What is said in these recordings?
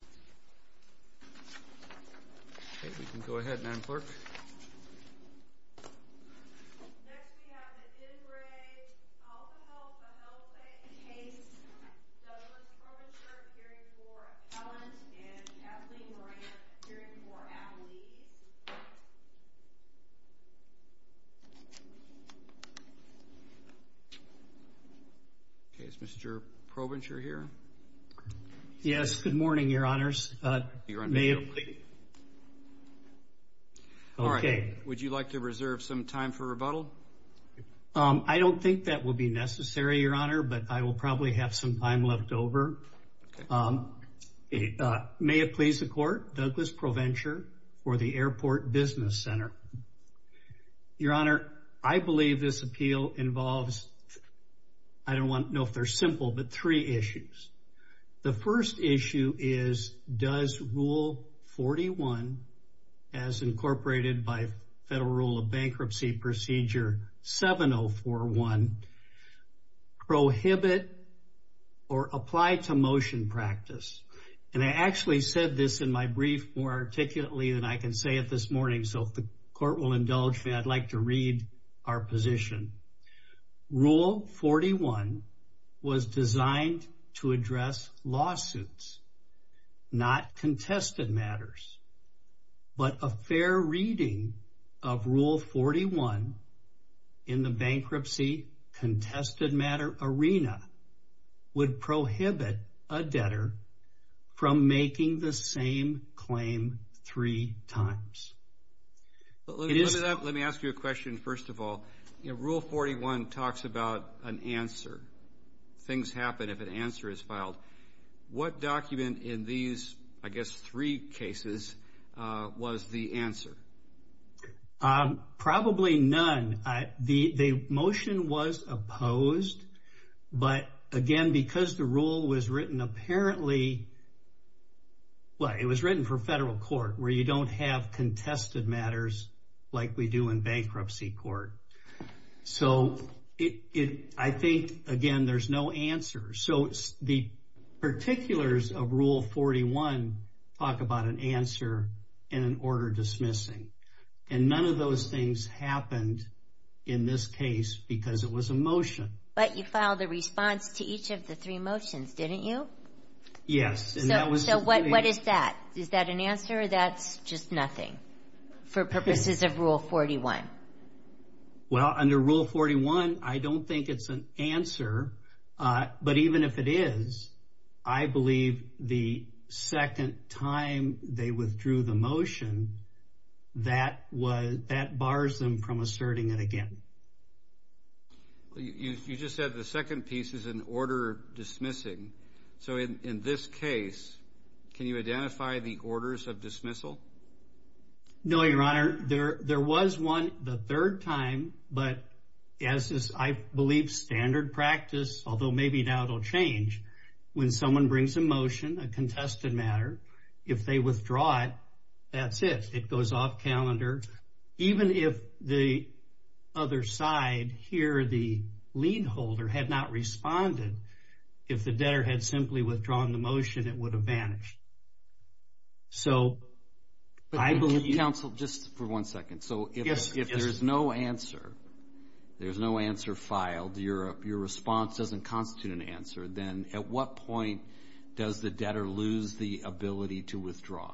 case, Douglas Probinger appearing for appellant, and Kathleen Moran appearing for attorney. Is Mr. Probinger here? Yes, good morning, your honors. Would you like to reserve some time for rebuttal? I don't think that will be necessary, your honor, but I will probably have some time left over. May it please the court, Douglas Probinger for the Airport Business Center. Your honor, I believe this appeal involves, I don't know if they're simple, but three issues. The first issue is, does Rule 41, as incorporated by Federal Rule of Bankruptcy Procedure 7041, prohibit or apply to motion practice? And I actually said this in my brief more articulately than I can say it this morning, so if the court will indulge me, I'd like to read our position. Rule 41 was designed to address lawsuits, not contested matters. But a fair reading of Rule 41 in the bankruptcy contested matter arena would prohibit a debtor from making the same claim three times. Let me ask you a question first of all. Rule 41 talks about an answer. Things happen if an answer is filed. What document in these, I guess, three cases was the answer? Probably none. The motion was opposed, but again, because the rule was written apparently, well, it was written for federal court where you don't have contested matters like we do in bankruptcy court. So I think, again, there's no answer. So the particulars of Rule 41 talk about an answer and an order dismissing. And none of those things happened in this case because it was a motion. But you filed a response to each of the three motions, didn't you? Yes. So what is that? Is that an answer or that's just nothing for purposes of Rule 41? Well, under Rule 41, I don't think it's an answer. But even if it is, I believe the second time they withdrew the motion, that bars them from asserting it again. You just said the second piece is an order dismissing. So in this case, can you identify the orders of dismissal? No, Your Honor. There was one the third time, but as is, I believe, standard practice, although maybe now it will change, when someone brings a motion, a contested matter, if they withdraw it, that's it. It goes off calendar. Even if the other side here, the lien holder, had not responded, if the debtor had simply withdrawn the motion, it would have vanished. But counsel, just for one second. So if there's no answer, there's no answer filed, your response doesn't constitute an answer, then at what point does the debtor lose the ability to withdraw?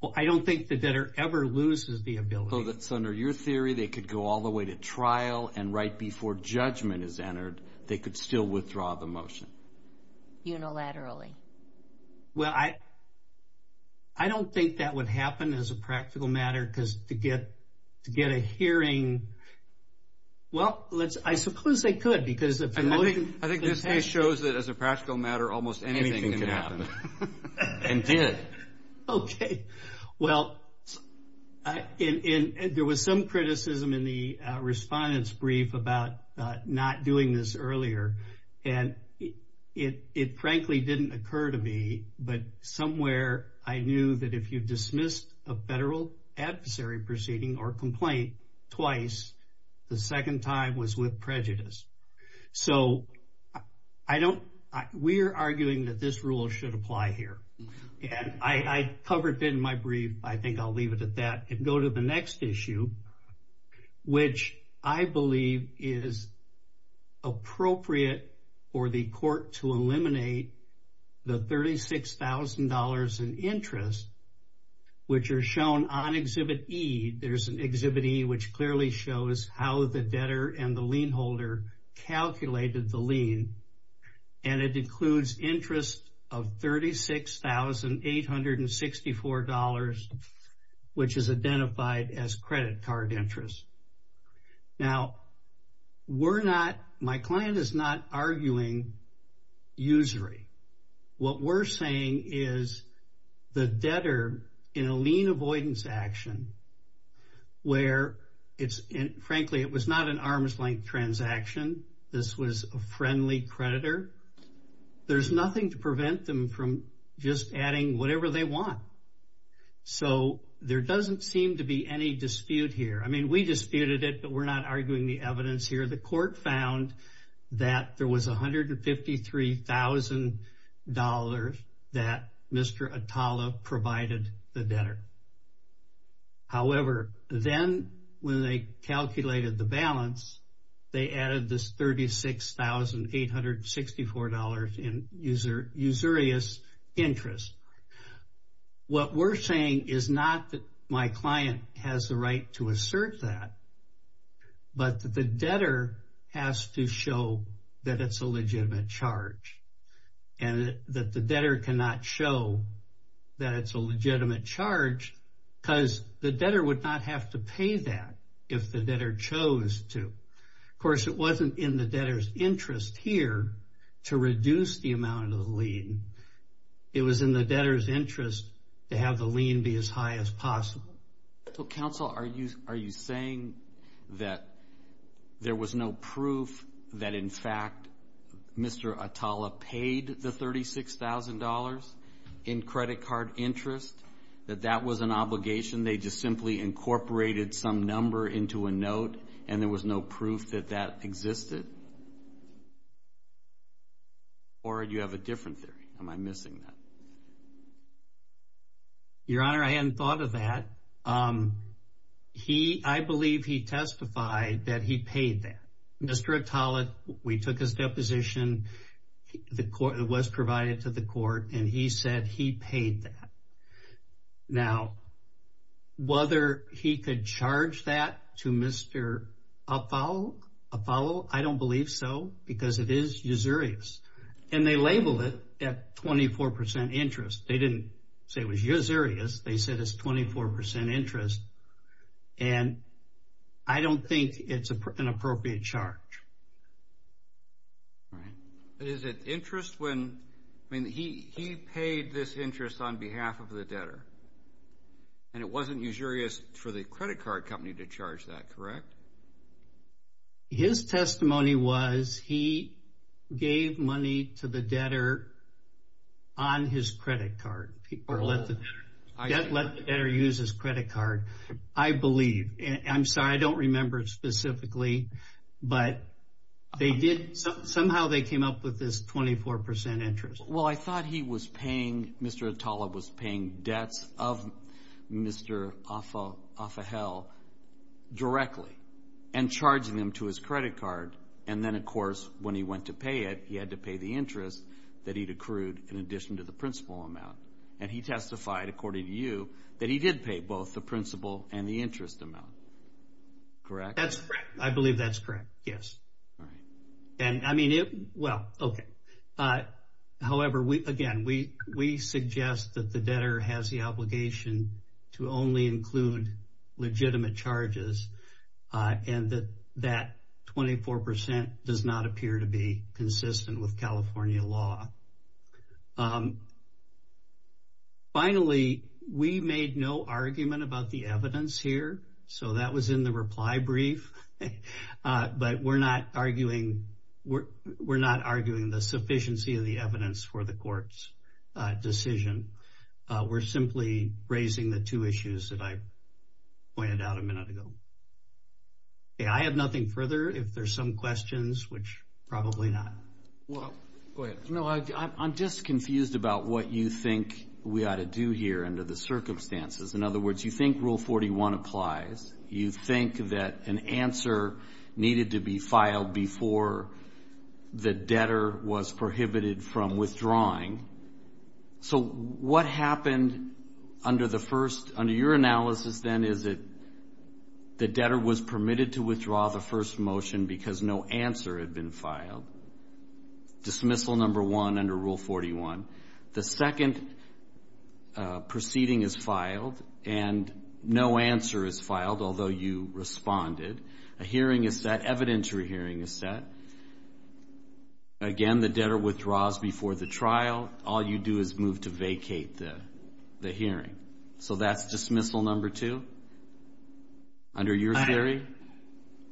Well, I don't think the debtor ever loses the ability. So that's under your theory, they could go all the way to trial, and right before judgment is entered, they could still withdraw the motion? Unilaterally. Well, I don't think that would happen as a practical matter, because to get a hearing, well, I suppose they could, because if the motion... I think this case shows that as a practical matter, almost anything can happen, and did. Okay. Well, there was some criticism in the respondent's brief about not doing this earlier, and it frankly didn't occur to me, but somewhere I knew that if you dismissed a federal adversary proceeding or complaint twice, the second time was with prejudice. So we're arguing that this rule should apply here. And I covered it in my brief, I think I'll leave it at that, and go to the next issue, which I believe is appropriate for the court to eliminate the $36,000 in interest, which are shown on Exhibit E. There's an Exhibit E which clearly shows how the debtor and the lien holder calculated the lien, and it includes interest of $36,864, which is identified as credit card interest. Now, we're not, my client is not arguing usury. What we're saying is the debtor, in a lien avoidance action, where it's, frankly, it was not an arm's-length transaction, this was a friendly creditor, there's nothing to prevent them from just adding whatever they want. So there doesn't seem to be any dispute here. I mean, we disputed it, but we're not arguing the evidence here. The court found that there was $153,000 that Mr. Atala provided the debtor. However, then when they calculated the balance, they added this $36,864 in usurious interest. What we're saying is not that my client has the right to assert that, but that the debtor has to show that it's a legitimate charge, and that the debtor cannot show that it's a legitimate charge because the debtor would not have to pay that if the debtor chose to. Of course, it wasn't in the debtor's interest here to reduce the amount of the lien. It was in the debtor's interest to have the lien be as high as possible. Counsel, are you saying that there was no proof that, in fact, Mr. Atala paid the $36,000 in credit card interest, that that was an obligation, they just simply incorporated some number into a note, and there was no proof that that existed? Or do you have a different theory? Am I missing that? Your Honor, I hadn't thought of that. I believe he testified that he paid that. Mr. Atala, we took his deposition, it was provided to the court, and he said he paid that. Now, whether he could charge that to Mr. Afal, I don't believe so, because it is usurious. And they label it at 24% interest. They didn't say it was usurious. They said it's 24% interest, and I don't think it's an appropriate charge. All right. But is it interest when, I mean, he paid this interest on behalf of the debtor, and it wasn't usurious for the credit card company to charge that, correct? His testimony was he gave money to the debtor on his credit card. Or let the debtor use his credit card, I believe. I'm sorry, I don't remember specifically, but they did, somehow they came up with this 24% interest. Well, I thought he was paying, Mr. Atala was paying debts of Mr. Afal directly and charging them to his credit card. And then, of course, when he went to pay it, he had to pay the interest that he'd accrued in addition to the principal amount. And he testified, according to you, that he did pay both the principal and the interest amount, correct? That's correct. I believe that's correct, yes. All right. And, I mean, well, okay. However, again, we suggest that the debtor has the obligation to only include legitimate charges, and that that 24% does not appear to be consistent with California law. Finally, we made no argument about the evidence here, so that was in the reply brief. But we're not arguing the sufficiency of the evidence for the court's decision. We're simply raising the two issues that I pointed out a minute ago. Okay, I have nothing further. If there's some questions, which probably not. Go ahead. No, I'm just confused about what you think we ought to do here under the circumstances. In other words, you think Rule 41 applies. You think that an answer needed to be filed before the debtor was prohibited from withdrawing. So what happened under your analysis then is that the debtor was permitted to withdraw the first motion because no answer had been filed. Dismissal number one under Rule 41. The second proceeding is filed, and no answer is filed, although you responded. A hearing is set, evidentiary hearing is set. Again, the debtor withdraws before the trial. All you do is move to vacate the hearing. So that's dismissal number two under your theory?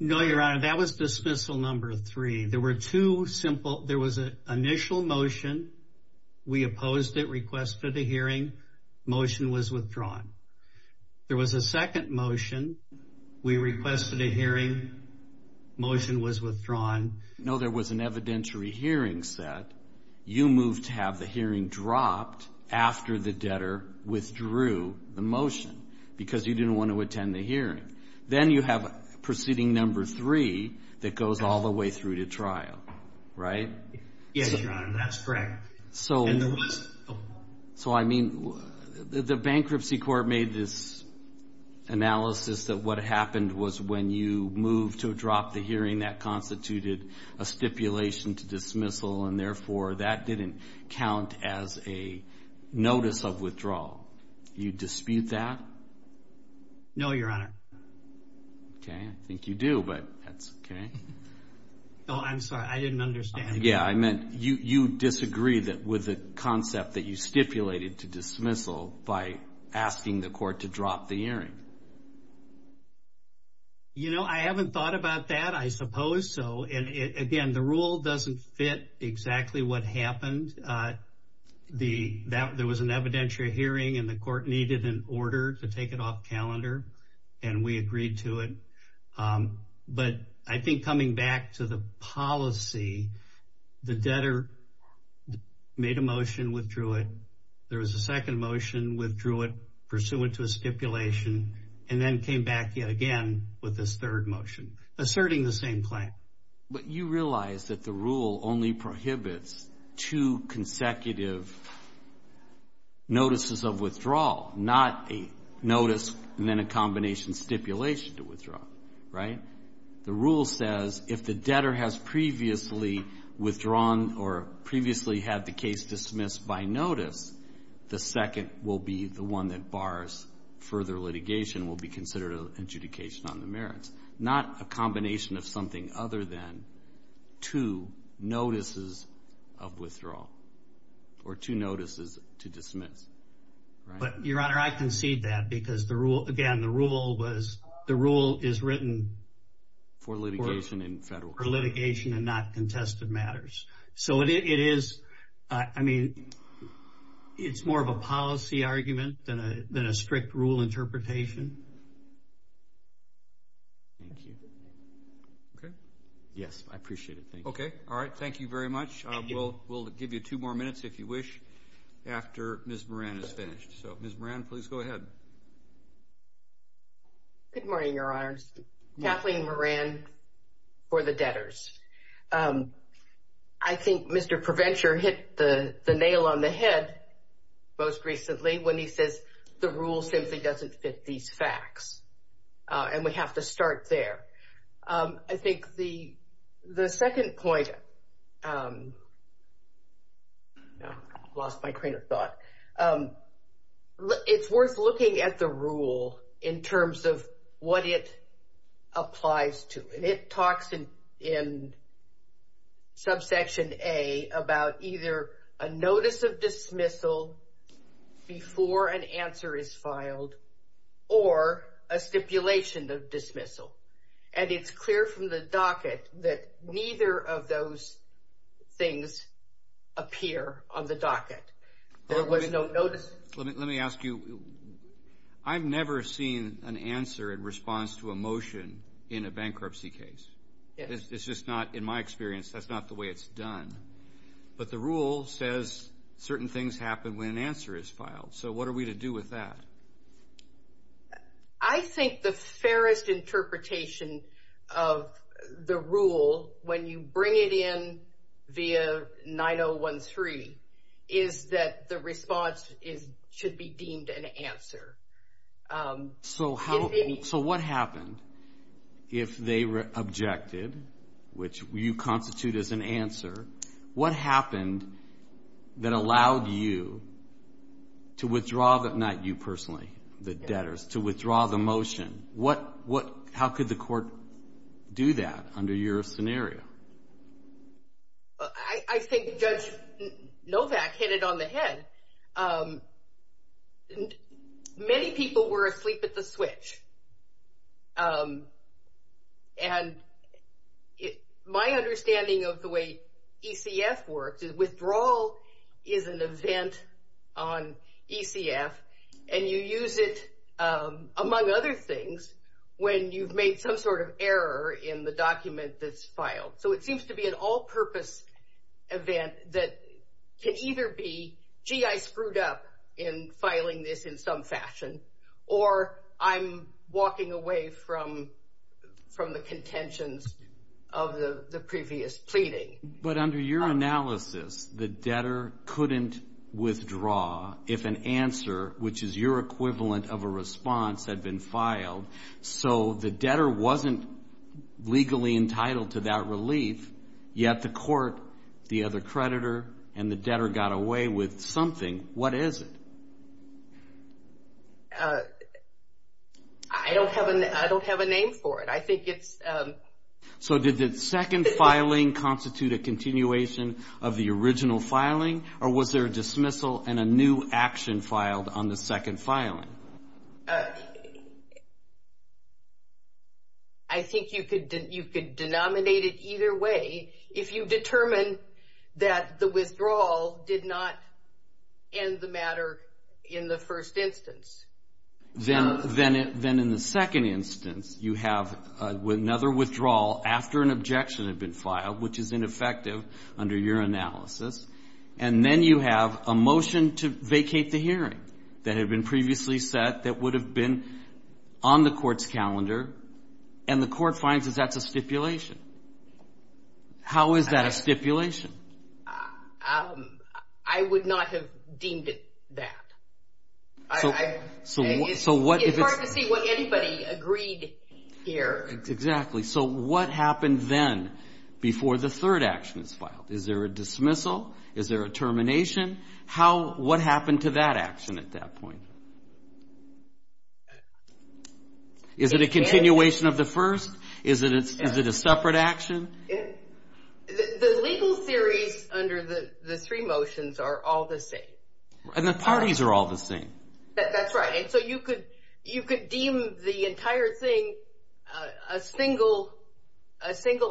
No, Your Honor, that was dismissal number three. There was an initial motion. We opposed it, requested a hearing. Motion was withdrawn. There was a second motion. We requested a hearing. Motion was withdrawn. No, there was an evidentiary hearing set. You moved to have the hearing dropped after the debtor withdrew the motion because you didn't want to attend the hearing. Then you have proceeding number three that goes all the way through to trial, right? Yes, Your Honor, that's correct. So I mean, the bankruptcy court made this analysis that what happened was when you moved to drop the hearing, that constituted a stipulation to dismissal, and therefore that didn't count as a notice of withdrawal. You dispute that? No, Your Honor. Okay, I think you do, but that's okay. Oh, I'm sorry. I didn't understand. Yeah, I meant you disagree with the concept that you stipulated to dismissal by asking the court to drop the hearing. You know, I haven't thought about that, I suppose. Again, the rule doesn't fit exactly what happened. There was an evidentiary hearing, and the court needed an order to take it off calendar, and we agreed to it. But I think coming back to the policy, the debtor made a motion, withdrew it. There was a second motion, withdrew it, pursuant to a stipulation, and then came back again with this third motion asserting the same claim. But you realize that the rule only prohibits two consecutive notices of withdrawal, not a notice and then a combination stipulation to withdraw, right? The rule says if the debtor has previously withdrawn or previously had the case dismissed by notice, the second will be the one that bars further litigation, will be considered an adjudication on the merits, not a combination of something other than two notices of withdrawal or two notices to dismiss. But, Your Honor, I concede that because, again, the rule is written for litigation and not contested matters. So it is, I mean, it's more of a policy argument than a strict rule interpretation. Thank you. Okay. Yes, I appreciate it. Okay. All right. Thank you very much. We'll give you two more minutes, if you wish, after Ms. Moran is finished. So, Ms. Moran, please go ahead. Good morning, Your Honors. Kathleen Moran for the debtors. I think Mr. Provencher hit the nail on the head most recently when he says the rule simply doesn't fit these facts, and we have to start there. I think the second point, I lost my train of thought. It's worth looking at the rule in terms of what it applies to, and it talks in subsection A about either a notice of dismissal before an answer is filed or a stipulation of dismissal. And it's clear from the docket that neither of those things appear on the docket. There was no notice. Let me ask you, I've never seen an answer in response to a motion in a bankruptcy case. It's just not, in my experience, that's not the way it's done. But the rule says certain things happen when an answer is filed. So what are we to do with that? I think the fairest interpretation of the rule when you bring it in via 9013 is that the response should be deemed an answer. So what happened if they objected, which you constitute as an answer? What happened that allowed you to withdraw, not you personally, the debtors, to withdraw the motion? How could the court do that under your scenario? I think Judge Novak hit it on the head. Many people were asleep at the switch. And my understanding of the way ECF works is withdrawal is an event on ECF, and you use it, among other things, when you've made some sort of error in the document that's filed. So it seems to be an all-purpose event that can either be, gee, I screwed up in filing this in some fashion, or I'm walking away from the contentions of the previous pleading. But under your analysis, the debtor couldn't withdraw if an answer, which is your equivalent of a response, had been filed. So the debtor wasn't legally entitled to that relief, yet the court, the other creditor, and the debtor got away with something. What is it? I don't have a name for it. So did the second filing constitute a continuation of the original filing, or was there a dismissal and a new action filed on the second filing? I think you could denominate it either way if you determine that the withdrawal did not end the matter in the first instance. Then in the second instance, you have another withdrawal after an objection had been filed, which is ineffective under your analysis. And then you have a motion to vacate the hearing that had been previously set that would have been on the court's calendar, and the court finds that that's a stipulation. How is that a stipulation? I would not have deemed it that. It's hard to see what anybody agreed here. Exactly. So what happened then before the third action is filed? Is there a dismissal? Is there a termination? What happened to that action at that point? Is it a continuation of the first? Is it a separate action? The legal theories under the three motions are all the same. And the parties are all the same. That's right. So you could deem the entire thing a single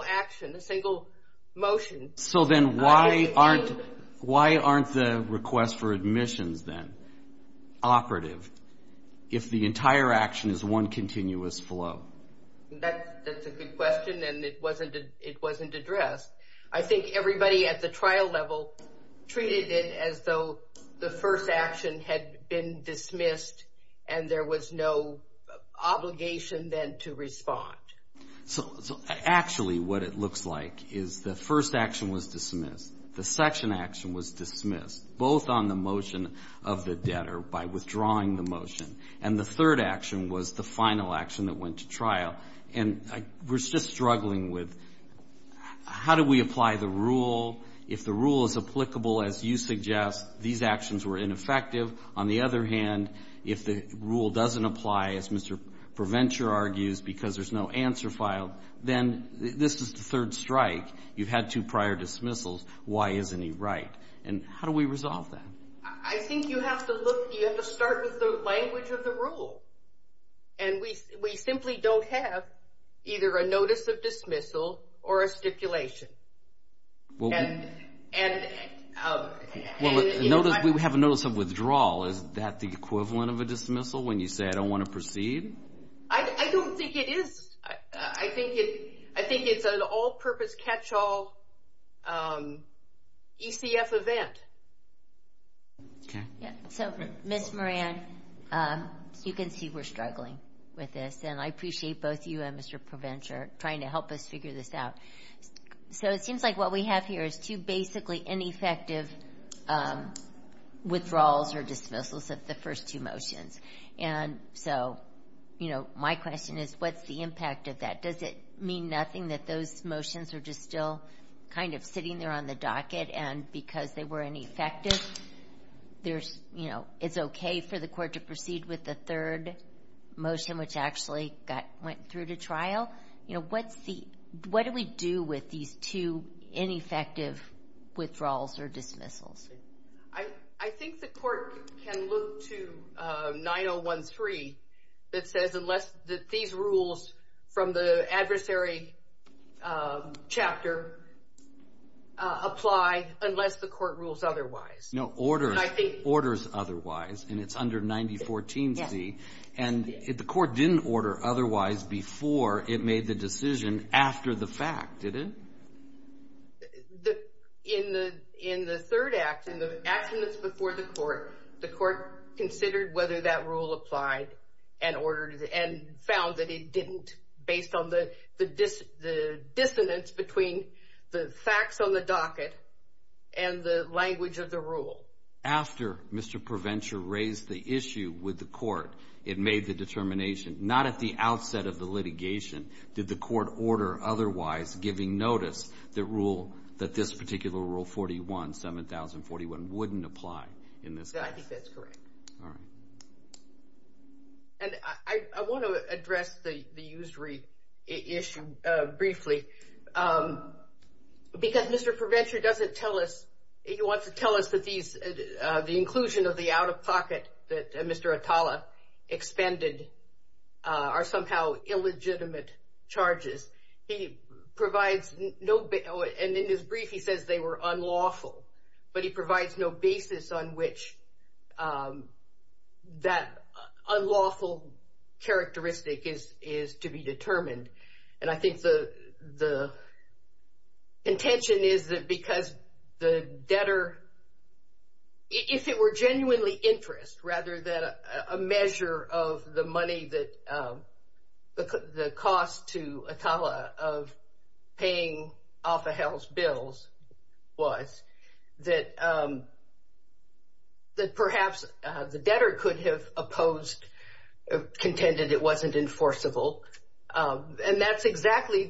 action, a single motion. So then why aren't the requests for admissions then operative if the entire action is one continuous flow? That's a good question, and it wasn't addressed. I think everybody at the trial level treated it as though the first action had been dismissed and there was no obligation then to respond. So actually what it looks like is the first action was dismissed, the section action was dismissed, both on the motion of the debtor by withdrawing the motion, and the third action was the final action that went to trial. And we're just struggling with how do we apply the rule? If the rule is applicable, as you suggest, these actions were ineffective. On the other hand, if the rule doesn't apply, as Mr. Provencher argues, because there's no answer filed, then this is the third strike. You've had two prior dismissals. Why isn't he right? And how do we resolve that? I think you have to look, you have to start with the language of the rule. And we simply don't have either a notice of dismissal or a stipulation. We have a notice of withdrawal. Is that the equivalent of a dismissal when you say I don't want to proceed? I don't think it is. I think it's an all-purpose catch-all ECF event. Okay. So, Ms. Moran, you can see we're struggling with this, and I appreciate both you and Mr. Provencher trying to help us figure this out. So it seems like what we have here is two basically ineffective withdrawals or dismissals of the first two motions. And so, you know, my question is what's the impact of that? Does it mean nothing that those motions are just still kind of sitting there on the docket and because they were ineffective, you know, it's okay for the court to proceed with the third motion, which actually went through to trial? You know, what do we do with these two ineffective withdrawals or dismissals? I think the court can look to 9013 that says unless these rules from the adversary chapter apply, unless the court rules otherwise. No, orders otherwise, and it's under 9014C. And the court didn't order otherwise before it made the decision after the fact, did it? In the third act, in the action that's before the court, the court considered whether that rule applied and found that it didn't based on the dissonance between the facts on the docket and the language of the rule. After Mr. Provencher raised the issue with the court, it made the determination, not at the outset of the litigation did the court order otherwise, giving notice, the rule that this particular rule 41, 7041, wouldn't apply in this case. I think that's correct. All right. And I want to address the usury issue briefly because Mr. Provencher doesn't tell us, he wants to tell us that the inclusion of the out-of-pocket that Mr. Atala expended are somehow illegitimate charges. He provides no, and in his brief he says they were unlawful, but he provides no basis on which that unlawful characteristic is to be determined. And I think the intention is that because the debtor, if it were genuinely interest, rather than a measure of the money that the cost to Atala of paying off Ahel's bills was, that perhaps the debtor could have opposed, contended it wasn't enforceable. And that's exactly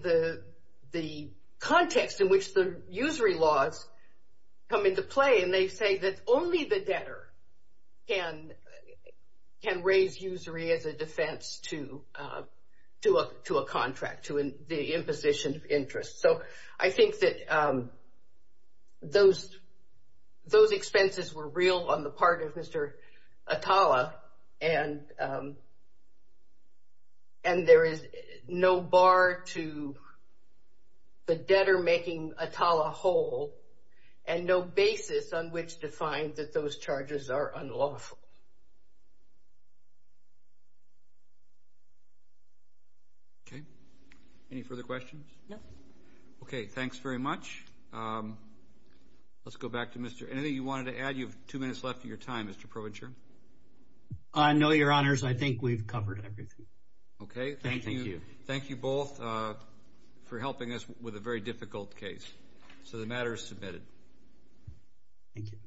the context in which the usury laws come into play, and they say that only the debtor can raise usury as a defense to a contract, to the imposition of interest. So I think that those expenses were real on the part of Mr. Atala, and there is no bar to the debtor making Atala whole and no basis on which to find that those charges are unlawful. Okay. Any further questions? No. Okay. Thanks very much. Let's go back to Mr. Atala. Anything you wanted to add? You have two minutes left of your time, Mr. Provencher. No, Your Honors. I think we've covered everything. Okay. Thank you. Thank you both for helping us with a very difficult case. So the matter is submitted. Thank you.